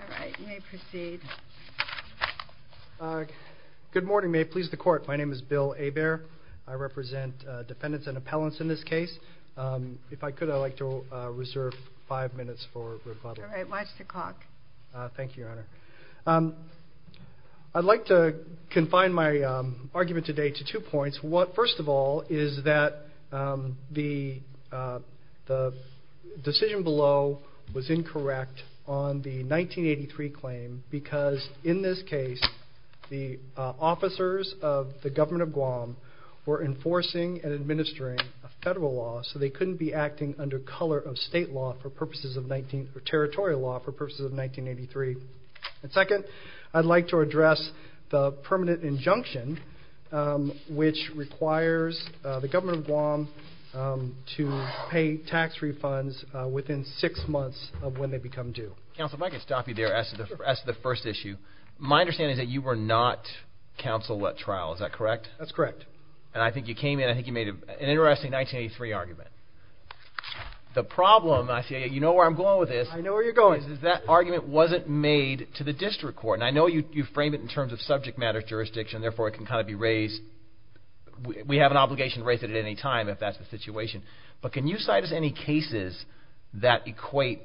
All right, you may proceed. Good morning, may it please the court. My name is Bill Hebert. I represent defendants and appellants in this case. If I could, I'd like to reserve five minutes for rebuttal. All right, watch the clock. Thank you, Your Honor. I'd like to confine my argument today to two points. First of all, is that the decision below was incorrect on the 1983 claim because in this case the officers of the Government of Guam were enforcing and administering a federal law so they couldn't be acting under color of state law for purposes of 19, or territorial law for purposes of 1983. Second, I'd like to address the permanent injunction which requires the Government of Guam to pay tax refunds within six months of when they become due. Counsel, if I could stop you there as to the first issue. My understanding is that you were not counsel at trial, is that correct? That's correct. And I think you came in, I think you made an interesting 1983 argument. The problem, I see, you know where I'm going with this. I know where you're going. Is that argument wasn't made to the district court. And I know you frame it in terms of subject matter jurisdiction, therefore it can kind of be raised, we have an obligation to raise it at any time if that's the situation. But can you cite us any cases that equate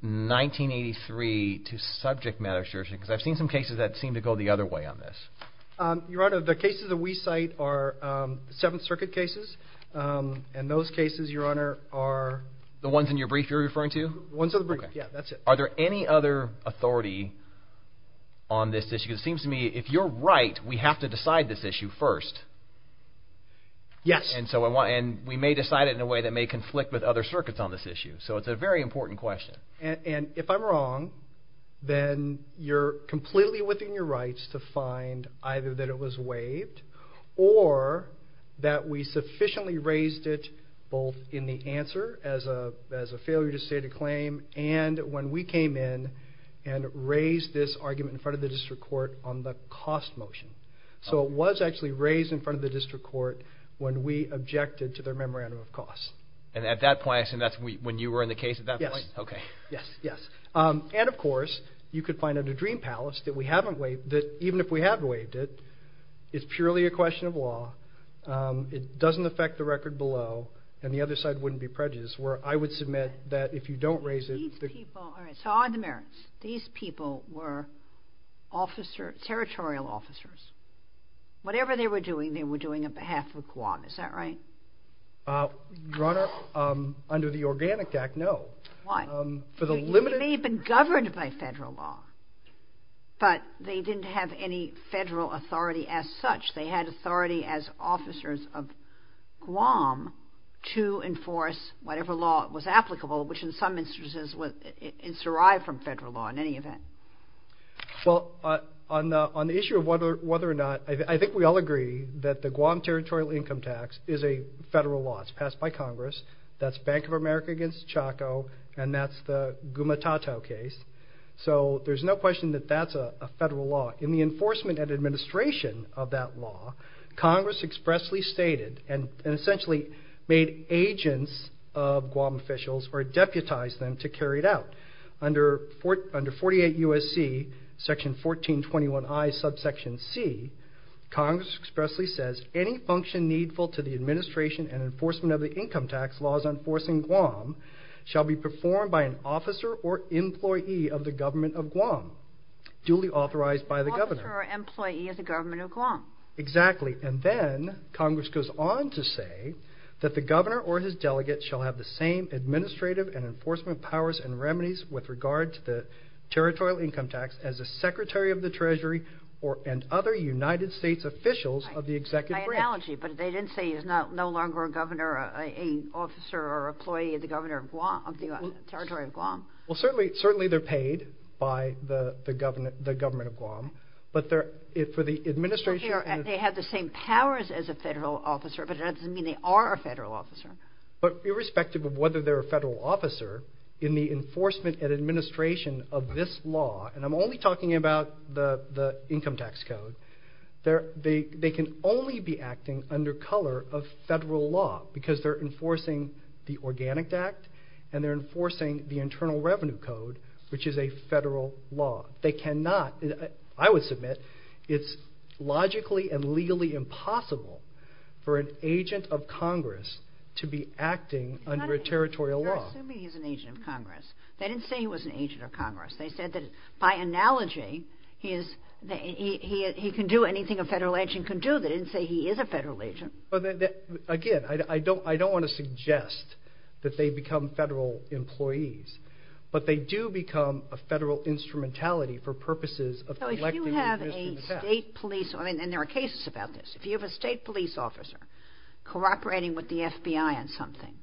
1983 to subject matter jurisdiction because I've seen some cases that seem to go the other way on this. Your Honor, the cases that we cite are Seventh Circuit cases. And those cases, Your Honor, are... The ones in your brief you're referring to? The ones in the brief, yeah, that's it. Are there any other authority on this issue? Because it seems to me if you're right, we have to decide this issue first. Yes. And we may decide it in a way that may conflict with other circuits on this issue. So it's a very important question. And if I'm wrong, then you're completely within your rights to find either that it was waived or that we sufficiently raised it both in the answer as a failure to state a claim and when we came in and raised this argument in front of the district court on the cost motion. So it was actually raised in front of the district court when we objected to their memorandum of cost. And at that point, I assume that's when you were in the case at that point? Yes. Okay. Yes, yes. And of course, you could find under Dream Palace that even if we have waived it, it's purely a question of law. It doesn't affect the record below. And the other side wouldn't be prejudiced where I would submit that if you don't raise it... So on the merits, these people were territorial officers. Whatever they were doing, they were doing on behalf of Guam. Is that right? Your Honor, under the Organic Act, no. Why? For the limited... They may have been governed by federal law, but they didn't have any federal authority as such. They had authority as officers of Guam to enforce whatever law was applicable, which in some instances, it's derived from federal law in any event. Well, on the issue of whether or not... I think we all agree that the Guam Territorial Income Tax is a federal law. It's passed by Congress. That's Bank of America against Chaco, and that's the Gumatatau case. So there's no question that that's a federal law. In the enforcement and administration of that law, Congress expressly stated and essentially made agents of Guam officials or deputized them to carry it out. Under 48 U.S.C. section 1421I subsection C, Congress expressly says, Any function needful to the administration and enforcement of the income tax laws enforcing Guam shall be performed by an officer or employee of the government of Guam, duly authorized by the governor. An officer or employee of the government of Guam. Exactly. And then Congress goes on to say that the governor or his delegate shall have the same administrative and enforcement powers and remedies with regard to the territorial income tax as a secretary of the treasury and other United States officials of the executive branch. My analogy, but they didn't say he's no longer a governor, an officer or employee of the territory of Guam. Well, certainly they're paid by the government of Guam, but for the administration... They have the same powers as a federal officer, but that doesn't mean they are a federal officer. But irrespective of whether they're a federal officer, in the enforcement and administration of this law, and I'm only talking about the income tax code, they can only be acting under color of federal law because they're enforcing the Organic Act and they're enforcing the Internal Revenue Code, which is a federal law. I would submit it's logically and legally impossible for an agent of Congress to be acting under a territorial law. They're assuming he's an agent of Congress. They didn't say he was an agent of Congress. They said that by analogy, he can do anything a federal agent can do. They didn't say he is a federal agent. Again, I don't want to suggest that they become federal employees, but they do become a federal instrumentality for purposes of... So if you have a state police, and there are cases about this, if you have a state police officer cooperating with the FBI on something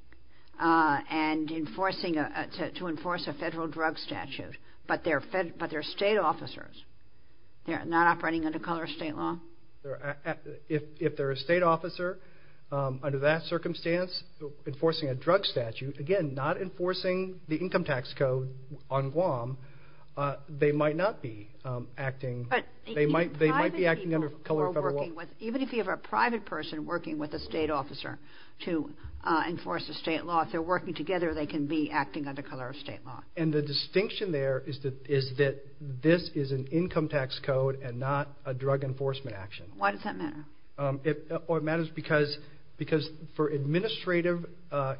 and enforcing, to enforce a federal drug statute, but they're state officers, they're not operating under color of state law? If they're a state officer, under that circumstance, enforcing a drug statute, again, not enforcing the income tax code on Guam, they might not be acting... They might be acting under color of federal law? Even if you have a private person working with a state officer to enforce a state law, if they're working together, they can be acting under color of state law. And the distinction there is that this is an income tax code and not a drug enforcement action. Why does that matter? It matters because for administrative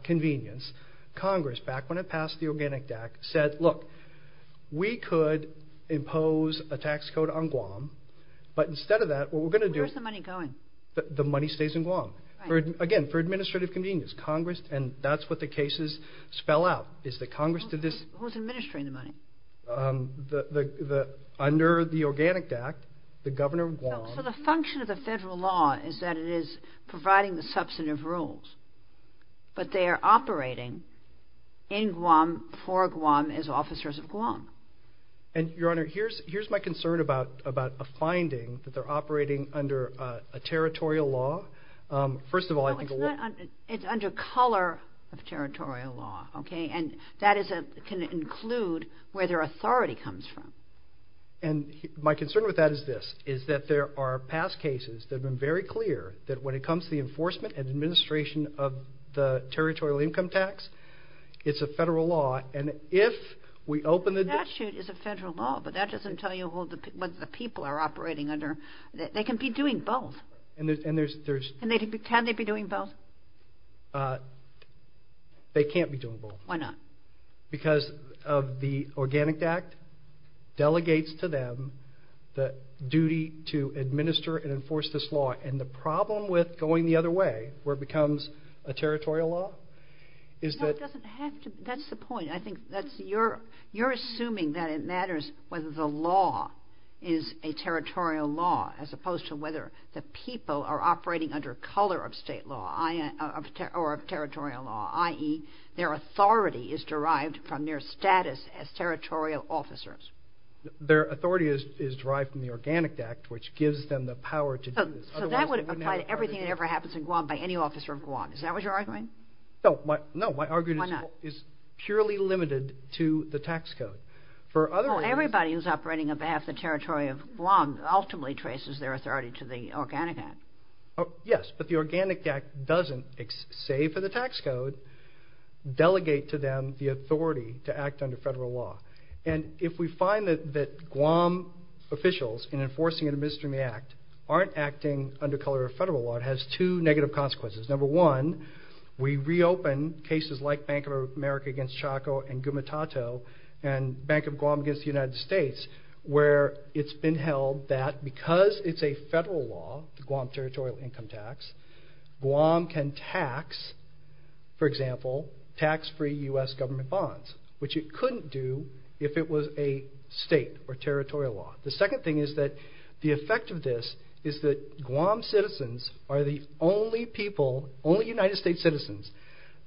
convenience, Congress, back when it passed the Organic Act, said, look, we could impose a tax code on Guam, but instead of that, what we're going to do... Where's the money going? The money stays in Guam. Right. Again, for administrative convenience, Congress, and that's what the cases spell out, is that Congress did this... Who's administering the money? Under the Organic Act, the governor of Guam... So the function of the federal law is that it is providing the substantive rules, but they are operating in Guam, for Guam, as officers of Guam. And, Your Honor, here's my concern about a finding that they're operating under a territorial law. First of all, I think... It's under color of territorial law, okay? And that can include where their authority comes from. And my concern with that is this, is that there are past cases that have been very clear that when it comes to the enforcement and administration of the territorial income tax, it's a federal law. And if we open the... The statute is a federal law, but that doesn't tell you what the people are operating under. They can be doing both. And there's... Can they be doing both? They can't be doing both. Why not? Because of the Organic Act delegates to them the duty to administer and enforce this law. And the problem with going the other way, where it becomes a territorial law, is that... That's the point. I think that's... You're assuming that it matters whether the law is a territorial law as opposed to whether the people are operating under color of state law or of territorial law, i.e., their authority is derived from their status as territorial officers. Their authority is derived from the Organic Act, which gives them the power to do this. So that would apply to everything that ever happens in Guam by any officer of Guam. Is that what you're arguing? No. Why not? My argument is purely limited to the tax code. For other reasons... Well, everybody who's operating on behalf of the territory of Guam ultimately traces their authority to the Organic Act. Yes, but the Organic Act doesn't, save for the tax code, delegate to them the authority to act under federal law. And if we find that Guam officials, in enforcing and administering the act, aren't acting under color of federal law, it has two negative consequences. Number one, we reopen cases like Bank of America against Chaco and Gumatato and Bank of Guam against the United States, where it's been held that because it's a federal law, the Guam Territorial Income Tax, Guam can tax, for example, tax-free U.S. government bonds, which it couldn't do if it was a state or territorial law. The second thing is that the effect of this is that Guam citizens are the only people, only United States citizens,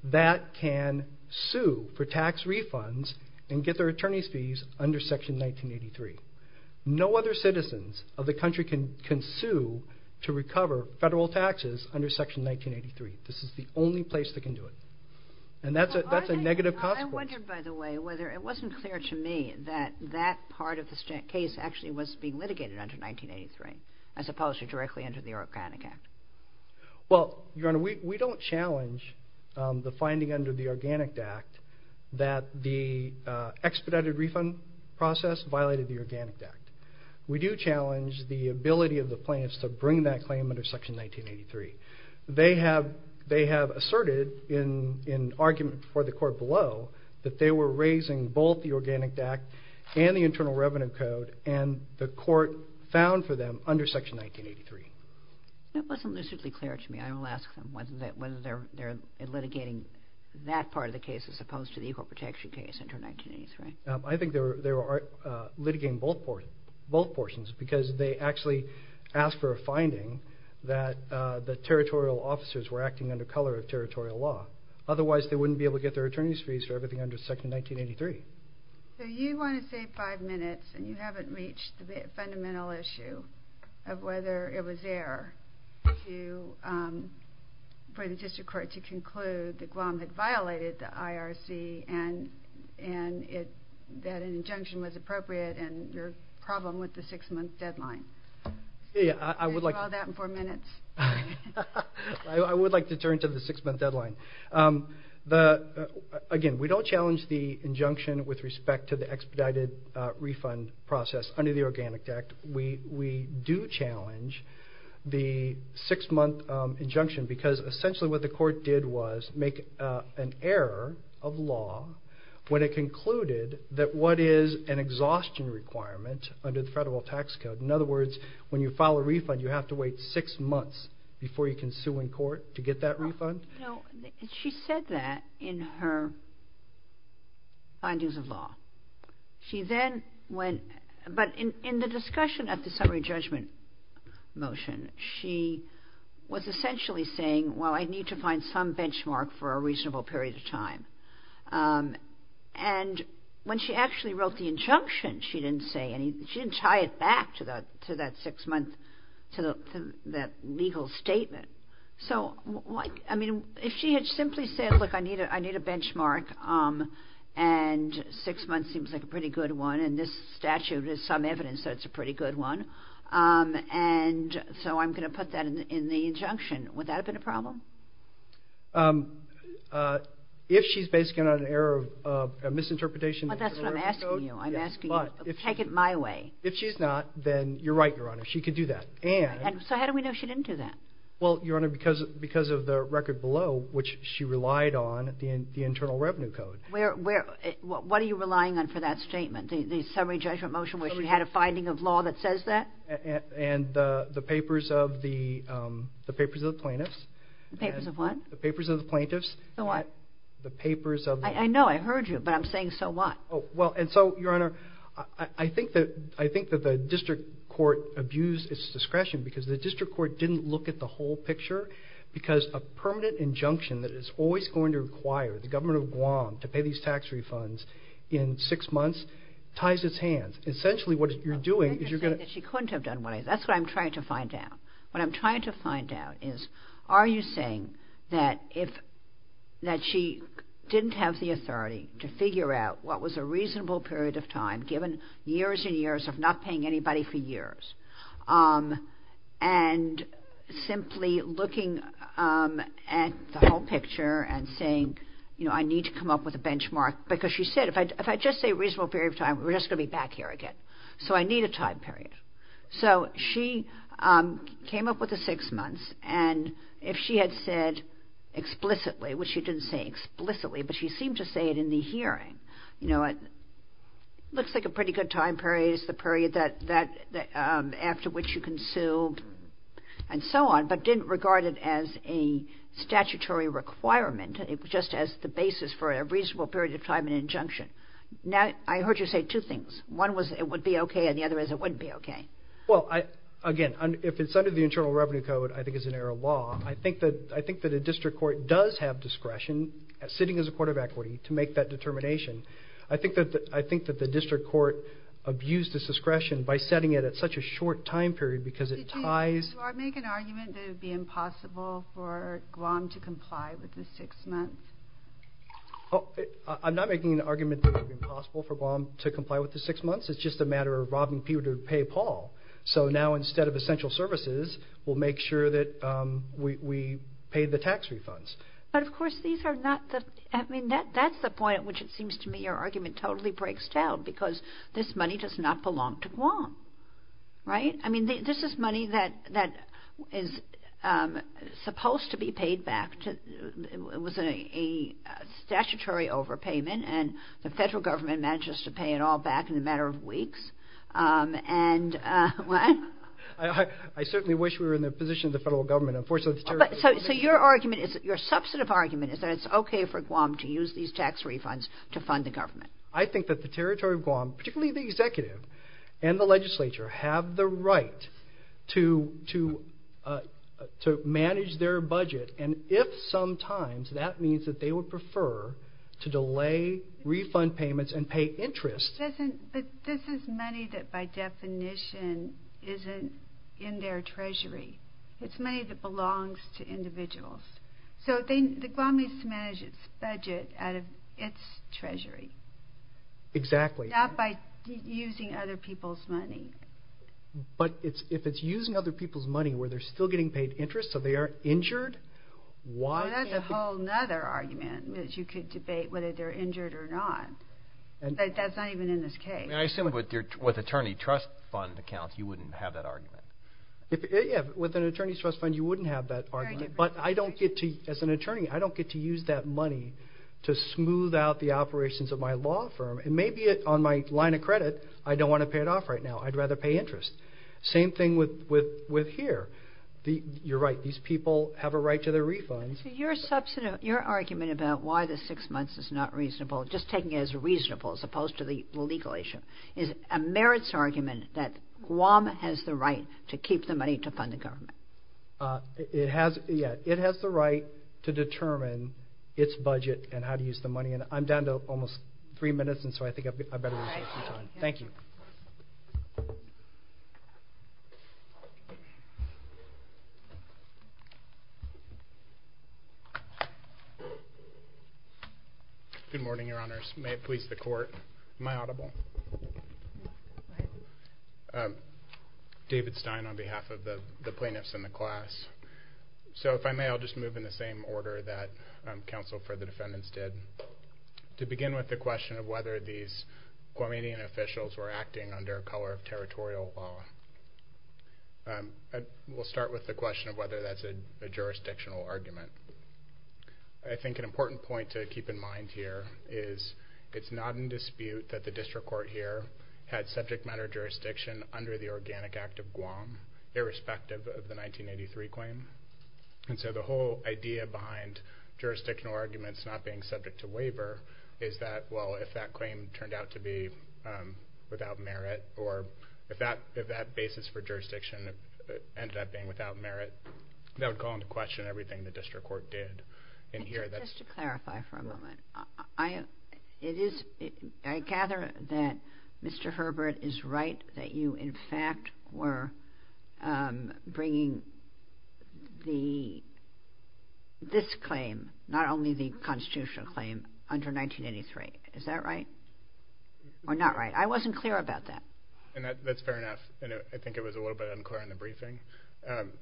that can sue for tax refunds and get their attorney's fees under Section 1983. No other citizens of the country can sue to recover federal taxes under Section 1983. This is the only place they can do it. And that's a negative consequence. I wondered, by the way, whether it wasn't clear to me that that part of this case actually was being litigated under 1983, as opposed to directly under the Organic Act. Well, Your Honor, we don't challenge the finding under the Organic Act that the expedited refund process violated the Organic Act. We do challenge the ability of the plaintiffs to bring that claim under Section 1983. They have asserted in argument before the Court below that they were raising both the Organic Act and the Internal Revenue Code, and the Court found for them under Section 1983. That wasn't lucidly clear to me. I will ask them whether they're litigating that part of the case as opposed to the Equal Protection case under 1983. I think they were litigating both portions because they actually asked for a finding that the territorial officers were acting under color of territorial law. Otherwise, they wouldn't be able to get their attorney's fees for everything under Section 1983. So you want to save five minutes, and you haven't reached the fundamental issue of whether it was there for the District Court to conclude that Guam had violated the IRC and that an injunction was appropriate and your problem with the six-month deadline. I would like to turn to the six-month deadline. Again, we don't challenge the injunction with respect to the expedited refund process under the Organic Act. We do challenge the six-month injunction because essentially what the Court did was make an error of law when it concluded that what is an exhaustion requirement under the federal tax code. In other words, when you file a refund, you have to wait six months before you can sue in court to get that refund. She said that in her findings of law. But in the discussion of the summary judgment motion, she was essentially saying, well, I need to find some benchmark for a reasonable period of time. And when she actually wrote the injunction, she didn't tie it back to that legal statement. I mean, if she had simply said, look, I need a benchmark, and six months seems like a pretty good one, and this statute is some evidence that it's a pretty good one, and so I'm going to put that in the injunction, would that have been a problem? If she's basing it on an error of misinterpretation of the federal tax code. But that's what I'm asking you. I'm asking you. Take it my way. If she's not, then you're right, Your Honor. She could do that. So how do we know she didn't do that? Well, Your Honor, because of the record below, which she relied on, the internal revenue code. What are you relying on for that statement, the summary judgment motion where she had a finding of law that says that? And the papers of the plaintiffs. The papers of what? The papers of the plaintiffs. The what? The papers of the plaintiffs. I know. I heard you, but I'm saying so what? Well, and so, Your Honor, I think that the district court abused its discretion because the district court didn't look at the whole picture because a permanent injunction that is always going to require the government of Guam to pay these tax refunds in six months ties its hands. Essentially, what you're doing is you're going to – I'm not saying that she couldn't have done what I said. That's what I'm trying to find out. What I'm trying to find out is are you saying that if – that she didn't have the authority to figure out what was a reasonable period of time, given years and years of not paying anybody for years, and simply looking at the whole picture and saying, you know, I need to come up with a benchmark? Because she said, if I just say reasonable period of time, we're just going to be back here again. So I need a time period. So she came up with the six months, and if she had said explicitly, which she didn't say explicitly, but she seemed to say it in the hearing, you know, it looks like a pretty good time period. It's the period that – after which you can sue and so on, but didn't regard it as a statutory requirement. It was just as the basis for a reasonable period of time and injunction. Now, I heard you say two things. One was it would be okay, and the other is it wouldn't be okay. Well, again, if it's under the Internal Revenue Code, I think it's an error of law. I think that a district court does have discretion, sitting as a court of equity, to make that determination. I think that the district court abused its discretion by setting it at such a short time period because it ties – Did you make an argument that it would be impossible for Guam to comply with the six months? I'm not making an argument that it would be impossible for Guam to comply with the six months. It's just a matter of robbing people to pay Paul. So now, instead of essential services, we'll make sure that we pay the tax refunds. But, of course, these are not the – I mean, that's the point at which it seems to me your argument totally breaks down because this money does not belong to Guam, right? I mean, this is money that is supposed to be paid back. It was a statutory overpayment, and the federal government manages to pay it all back in a matter of weeks. And – what? I certainly wish we were in the position of the federal government. So your argument is – your substantive argument is that it's okay for Guam to use these tax refunds to fund the government. I think that the territory of Guam, particularly the executive and the legislature, have the right to manage their budget. And if sometimes that means that they would prefer to delay refund payments and pay interest – But this is money that, by definition, isn't in their treasury. So the Guam needs to manage its budget out of its treasury. Exactly. Not by using other people's money. But if it's using other people's money where they're still getting paid interest, so they aren't injured, why can't – Well, that's a whole other argument, which you could debate whether they're injured or not. But that's not even in this case. And I assume with attorney trust fund accounts, you wouldn't have that argument. But I don't get to – as an attorney, I don't get to use that money to smooth out the operations of my law firm. And maybe on my line of credit, I don't want to pay it off right now. I'd rather pay interest. Same thing with here. You're right. These people have a right to their refunds. Your argument about why the six months is not reasonable, just taking it as reasonable as opposed to the legal issue, is a merits argument that Guam has the right to keep the money to fund the government. It has the right to determine its budget and how to use the money. And I'm down to almost three minutes, and so I think I'd better take some time. Thank you. Good morning, Your Honors. May it please the Court. Am I audible? Go ahead. David Stein on behalf of the plaintiffs in the class. So if I may, I'll just move in the same order that counsel for the defendants did. To begin with the question of whether these Guamanian officials were acting under a color of territorial law, we'll start with the question of whether that's a jurisdictional argument. I think an important point to keep in mind here is it's not in dispute that the district court here had subject matter jurisdiction under the Organic Act of Guam, irrespective of the 1983 claim. And so the whole idea behind jurisdictional arguments not being subject to waiver is that, well, if that claim turned out to be without merit or if that basis for jurisdiction ended up being without merit, that would call into question everything the district court did in here. Just to clarify for a moment, I gather that Mr. Herbert is right that you, in fact, were bringing this claim, not only the constitutional claim, under 1983. Is that right? Or not right? I wasn't clear about that. That's fair enough, and I think it was a little bit unclear in the briefing.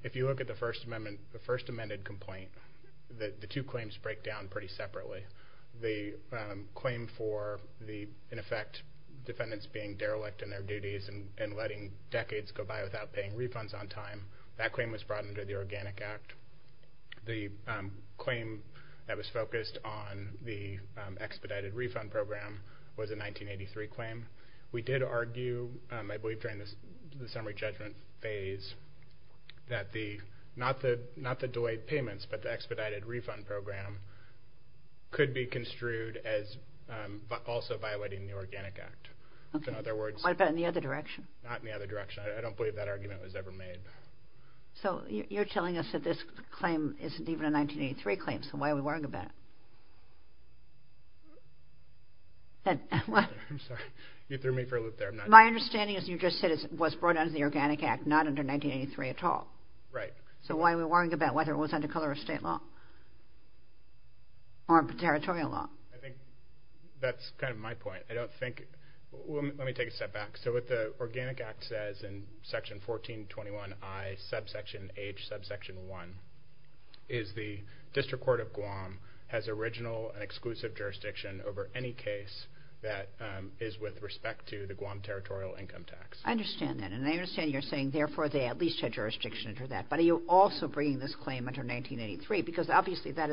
If you look at the First Amendment complaint, the two claims break down pretty separately. The claim for the, in effect, defendants being derelict in their duties and letting decades go by without paying refunds on time, that claim was brought under the Organic Act. The claim that was focused on the expedited refund program was a 1983 claim. We did argue, I believe during the summary judgment phase, that not the delayed payments but the expedited refund program could be construed as also violating the Organic Act. What about in the other direction? Not in the other direction. I don't believe that argument was ever made. So you're telling us that this claim isn't even a 1983 claim, so why are we worrying about it? I'm sorry. You threw me for a loop there. My understanding is you just said it was brought under the Organic Act, not under 1983 at all. Right. So why are we worrying about whether it was under color of state law or territorial law? I think that's kind of my point. I don't think, let me take a step back. So what the Organic Act says in Section 1421I, subsection H, subsection 1, is the District Court of Guam has original and exclusive jurisdiction over any case that is with respect to the Guam territorial income tax. I understand that. And I understand you're saying, therefore, they at least had jurisdiction under that. But are you also bringing this claim under 1983? Because obviously that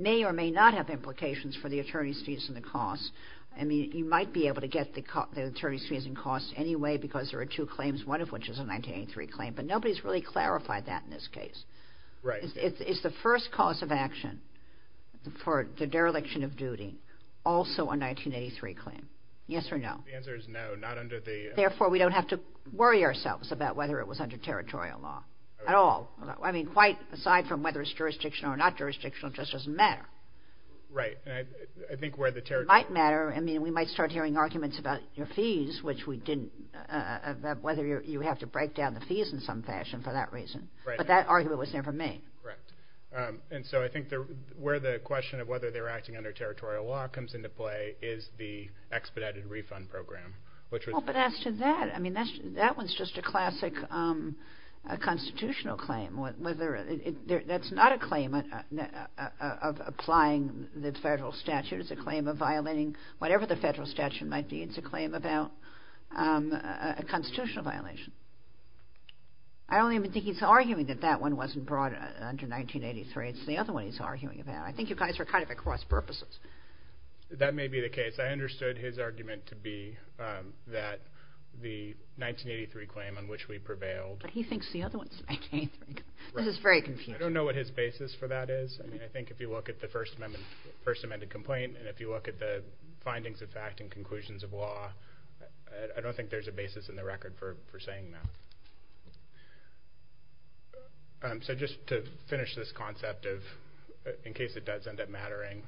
may or may not have implications for the attorney's fees and the costs. I mean, you might be able to get the attorney's fees and costs anyway because there are two claims, one of which is a 1983 claim, but nobody's really clarified that in this case. Right. Is the first cause of action for the dereliction of duty also a 1983 claim? Yes or no? The answer is no, not under the... Therefore, we don't have to worry ourselves about whether it was under territorial law at all. I mean, quite aside from whether it's jurisdictional or not jurisdictional, it just doesn't matter. Right. I think where the territorial... It might matter. I mean, we might start hearing arguments about your fees, which we didn't, whether you have to break down the fees in some fashion for that reason. Right. But that argument was never made. Correct. And so I think where the question of whether they were acting under territorial law comes into play is the expedited refund program, which was... Well, but as to that, I mean, that one's just a classic constitutional claim. That's not a claim of applying the federal statute. It's a claim of violating whatever the federal statute might be. It's a claim about a constitutional violation. I don't even think he's arguing that that one wasn't brought under 1983. It's the other one he's arguing about. I think you guys are kind of at cross purposes. That may be the case. I understood his argument to be that the 1983 claim on which we prevailed. But he thinks the other one's 1983. This is very confusing. I don't know what his basis for that is. I mean, I think if you look at the First Amendment complaint and if you look at the findings of fact and conclusions of law, I don't think there's a basis in the record for saying that. So just to finish this concept, in case it does end up mattering,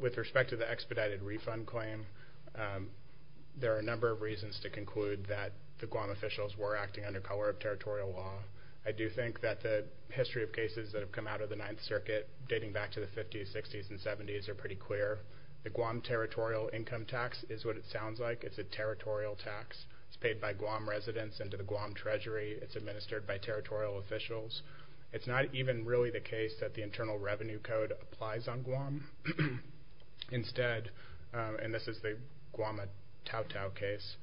with respect to the expedited refund claim, there are a number of reasons to conclude that the Guam officials were acting under color of territorial law. I do think that the history of cases that have come out of the Ninth Circuit dating back to the 50s, 60s, and 70s are pretty clear. The Guam territorial income tax is what it sounds like. It's a territorial tax. It's paid by Guam residents into the Guam Treasury. It's administered by territorial officials. It's not even really the case that the Internal Revenue Code applies on Guam. Instead, and this is the Guam tau-tau case,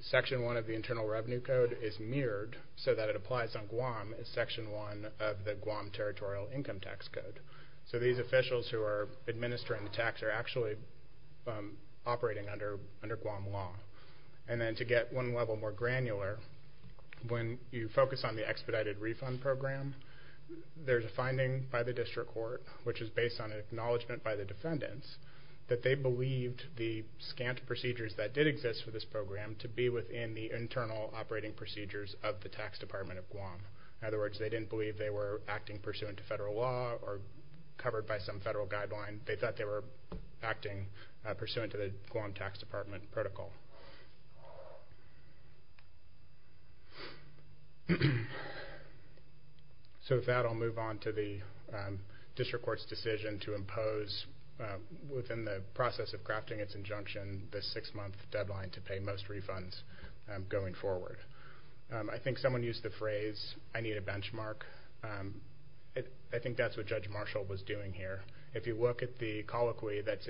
Section 1 of the Internal Revenue Code is mirrored so that it applies on Guam as Section 1 of the Guam territorial income tax code. So these officials who are administering the tax are actually operating under Guam law. And then to get one level more granular, when you focus on the expedited refund program, there's a finding by the district court, which is based on acknowledgment by the defendants, that they believed the scant procedures that did exist for this program to be within the internal operating procedures of the Tax Department of Guam. In other words, they didn't believe they were acting pursuant to federal law or covered by some federal guideline. They thought they were acting pursuant to the Guam Tax Department protocol. So with that, I'll move on to the district court's decision to impose, within the process of crafting its injunction, the six-month deadline to pay most refunds going forward. I think someone used the phrase, I need a benchmark. I think that's what Judge Marshall was doing here. If you look at the colloquy that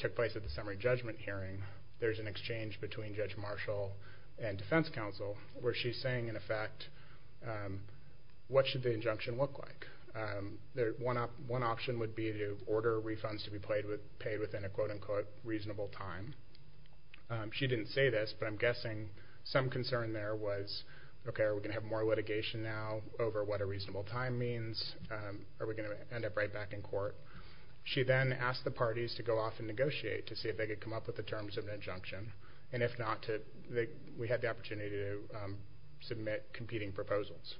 took place at the summary judgment hearing, there's an exchange between Judge Marshall and defense counsel where she's saying, in effect, what should the injunction look like? One option would be to order refunds to be paid within a quote-unquote reasonable time. She didn't say this, but I'm guessing some concern there was, okay, are we going to have more litigation now over what a reasonable time means? Are we going to end up right back in court? She then asked the parties to go off and negotiate to see if they could come up with the terms of an injunction, and if not, we had the opportunity to submit competing proposals.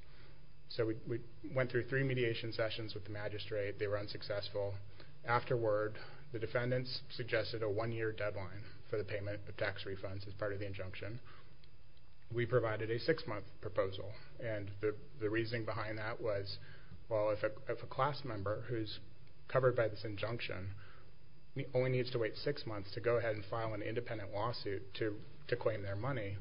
So we went through three mediation sessions with the magistrate. They were unsuccessful. Afterward, the defendants suggested a one-year deadline for the payment of tax refunds as part of the injunction. We provided a six-month proposal, and the reasoning behind that was, well, if a class member who's covered by this injunction only needs to wait six months to go ahead and file an independent lawsuit to claim their money,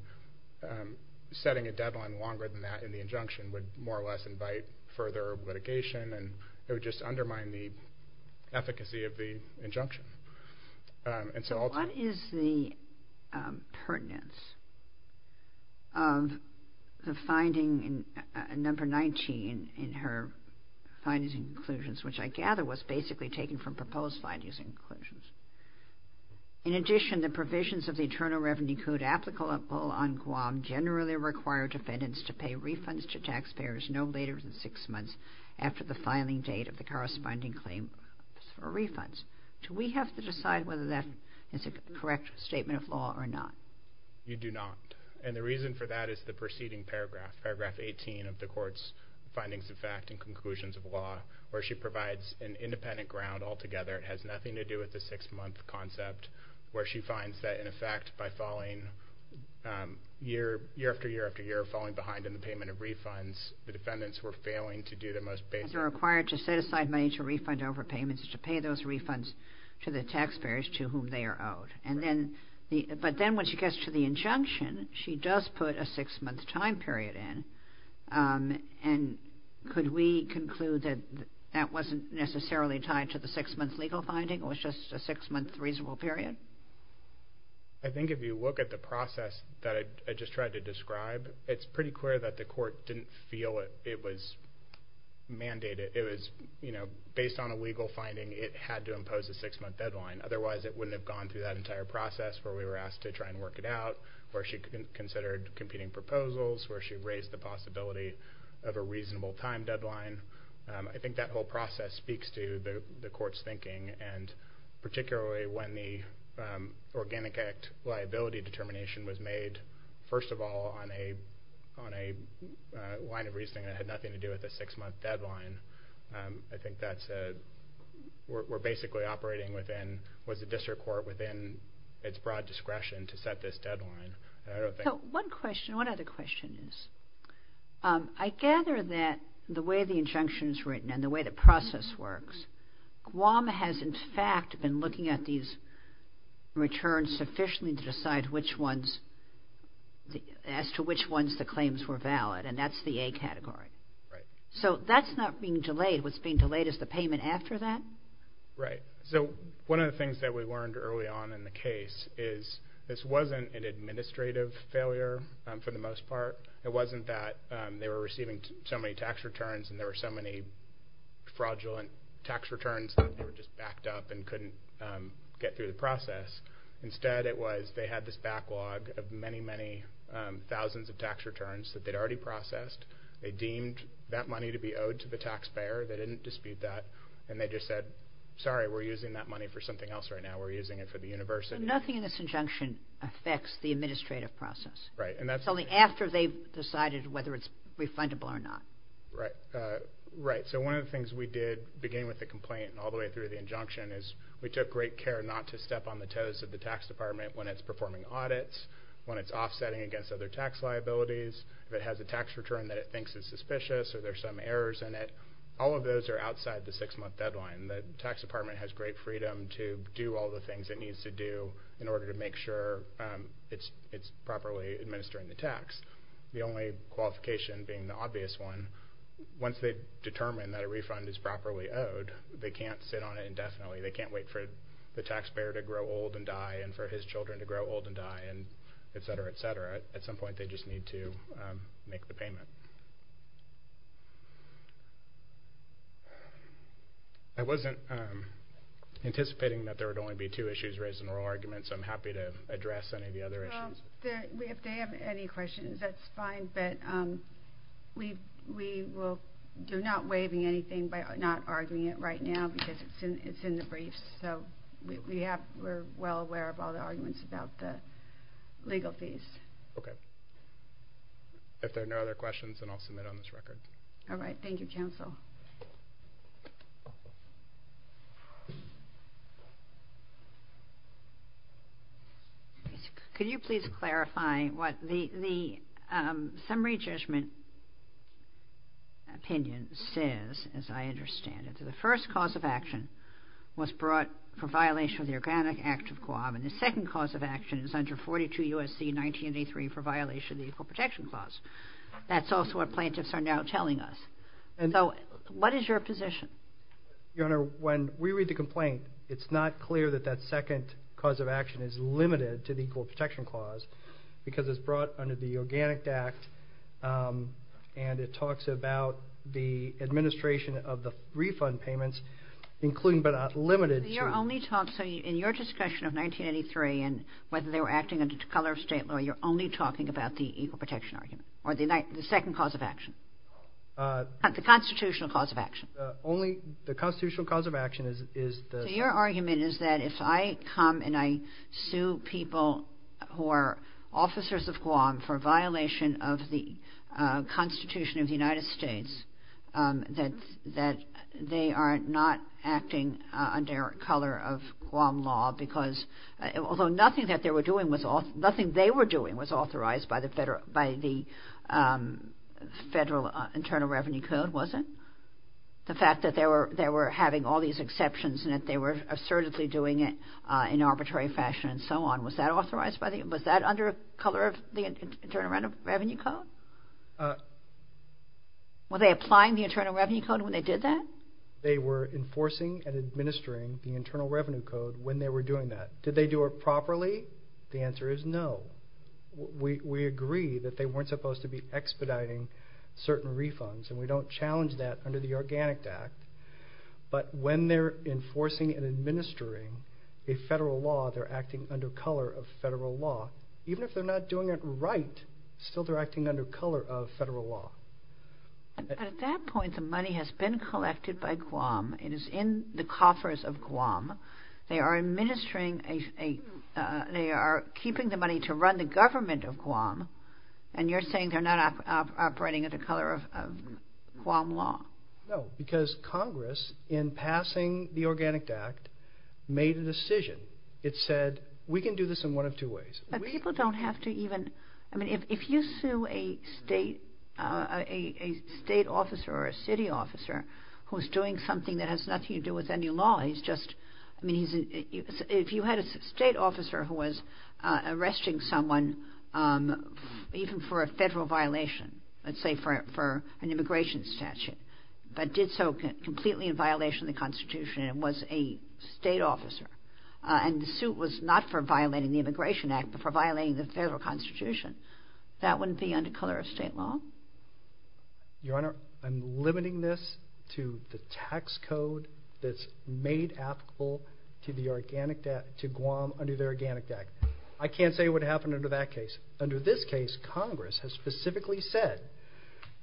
setting a deadline longer than that in the injunction would more or less invite further litigation, and it would just undermine the efficacy of the injunction. What is the pertinence of the finding number 19 in her findings and conclusions, which I gather was basically taken from proposed findings and conclusions? In addition, the provisions of the Internal Revenue Code applicable on Guam generally require defendants to pay refunds to taxpayers no later than six months after the filing date of the corresponding claim for refunds. Do we have to decide whether that is a correct statement of law or not? You do not, and the reason for that is the preceding paragraph, paragraph 18 of the court's findings of fact and conclusions of law, where she provides an independent ground altogether. It has nothing to do with the six-month concept, where she finds that, in effect, by falling year after year after year, falling behind in the payment of refunds, the defendants were failing to do the most basic... to the taxpayers to whom they are owed. But then when she gets to the injunction, she does put a six-month time period in, and could we conclude that that wasn't necessarily tied to the six-month legal finding or was just a six-month reasonable period? I think if you look at the process that I just tried to describe, it's pretty clear that the court didn't feel it was mandated. It was, you know, based on a legal finding, it had to impose a six-month deadline. Otherwise, it wouldn't have gone through that entire process where we were asked to try and work it out, where she considered competing proposals, where she raised the possibility of a reasonable time deadline. I think that whole process speaks to the court's thinking, and particularly when the Organic Act liability determination was made, first of all, on a line of reasoning that had nothing to do with a six-month deadline. I think that's a...we're basically operating within... was the district court within its broad discretion to set this deadline? I don't think... So one question, one other question is, I gather that the way the injunction is written and the way the process works, Guam has, in fact, been looking at these returns sufficiently to decide which ones... as to which ones the claims were valid, and that's the A category. Right. So that's not being delayed. What's being delayed is the payment after that? Right. So one of the things that we learned early on in the case is this wasn't an administrative failure for the most part. It wasn't that they were receiving so many tax returns and there were so many fraudulent tax returns that they were just backed up and couldn't get through the process. Instead, it was they had this backlog of many, many thousands of tax returns that they'd already processed. They deemed that money to be owed to the taxpayer. They didn't dispute that, and they just said, sorry, we're using that money for something else right now. We're using it for the university. Nothing in this injunction affects the administrative process. Right, and that's... It's only after they've decided whether it's refundable or not. Right. Right. So one of the things we did beginning with the complaint and all the way through the injunction is we took great care not to step on the toes of the tax department when it's performing audits, when it's offsetting against other tax liabilities, if it has a tax return that it thinks is suspicious or there's some errors in it. All of those are outside the six-month deadline. The tax department has great freedom to do all the things it needs to do in order to make sure it's properly administering the tax. The only qualification being the obvious one, once they've determined that a refund is properly owed, they can't sit on it indefinitely. They can't wait for the taxpayer to grow old and die and for his children to grow old and die, et cetera, et cetera. At some point they just need to make the payment. I wasn't anticipating that there would only be two issues raised in oral arguments. I'm happy to address any of the other issues. If they have any questions, that's fine, but we're not waiving anything by not arguing it right now because it's in the briefs, so we're well aware of all the arguments about the legal fees. Okay. If there are no other questions, then I'll submit on this record. All right. Thank you, Counsel. Could you please clarify what the summary judgment opinion says, as I understand it? The first cause of action was brought for violation of the Organic Act of Guam, and the second cause of action is under 42 U.S.C. 1983 for violation of the Equal Protection Clause. So, as I understand it, what is your position? Your Honor, when we read the complaint, it's not clear that that second cause of action is limited to the Equal Protection Clause because it's brought under the Organic Act, and it talks about the administration of the refund payments, including but not limited to... So, in your discussion of 1983 and whether they were acting under the color of state law, you're only talking about the Equal Protection Argument or the second cause of action? The constitutional cause of action. Only the constitutional cause of action is... So, your argument is that if I come and I sue people who are officers of Guam for violation of the Constitution of the United States, that they are not acting under color of Guam law because although nothing that they were doing was... Internal Revenue Code, was it? The fact that they were having all these exceptions and that they were assertively doing it in arbitrary fashion and so on, was that authorized by the... Was that under color of the Internal Revenue Code? Were they applying the Internal Revenue Code when they did that? They were enforcing and administering the Internal Revenue Code when they were doing that. Did they do it properly? The answer is no. We agree that they weren't supposed to be expediting certain refunds and we don't challenge that under the Organic Act. But when they're enforcing and administering a federal law, they're acting under color of federal law. Even if they're not doing it right, still they're acting under color of federal law. At that point, the money has been collected by Guam. It is in the coffers of Guam. They are keeping the money to run the government of Guam and you're saying they're not operating under color of Guam law? No, because Congress, in passing the Organic Act, made a decision. It said, we can do this in one of two ways. But people don't have to even... I mean, if you sue a state officer or a city officer who's doing something that has nothing to do with any law, he's just... If you had a state officer who was arresting someone even for a federal violation, let's say for an immigration statute, but did so completely in violation of the Constitution and was a state officer and the suit was not for violating the Immigration Act but for violating the federal Constitution, that wouldn't be under color of state law? Your Honor, I'm limiting this to the tax code that's made applicable to Guam under the Organic Act. I can't say what happened under that case. Under this case, Congress has specifically said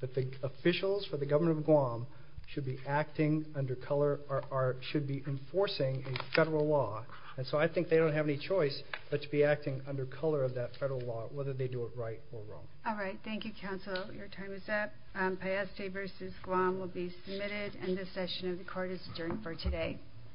that the officials for the government of Guam should be acting under color... or should be enforcing a federal law. And so I think they don't have any choice but to be acting under color of that federal law, whether they do it right or wrong. All right. Thank you, counsel. Your time is up. Pieste v. Guam will be submitted, and this session of the Court is adjourned for today.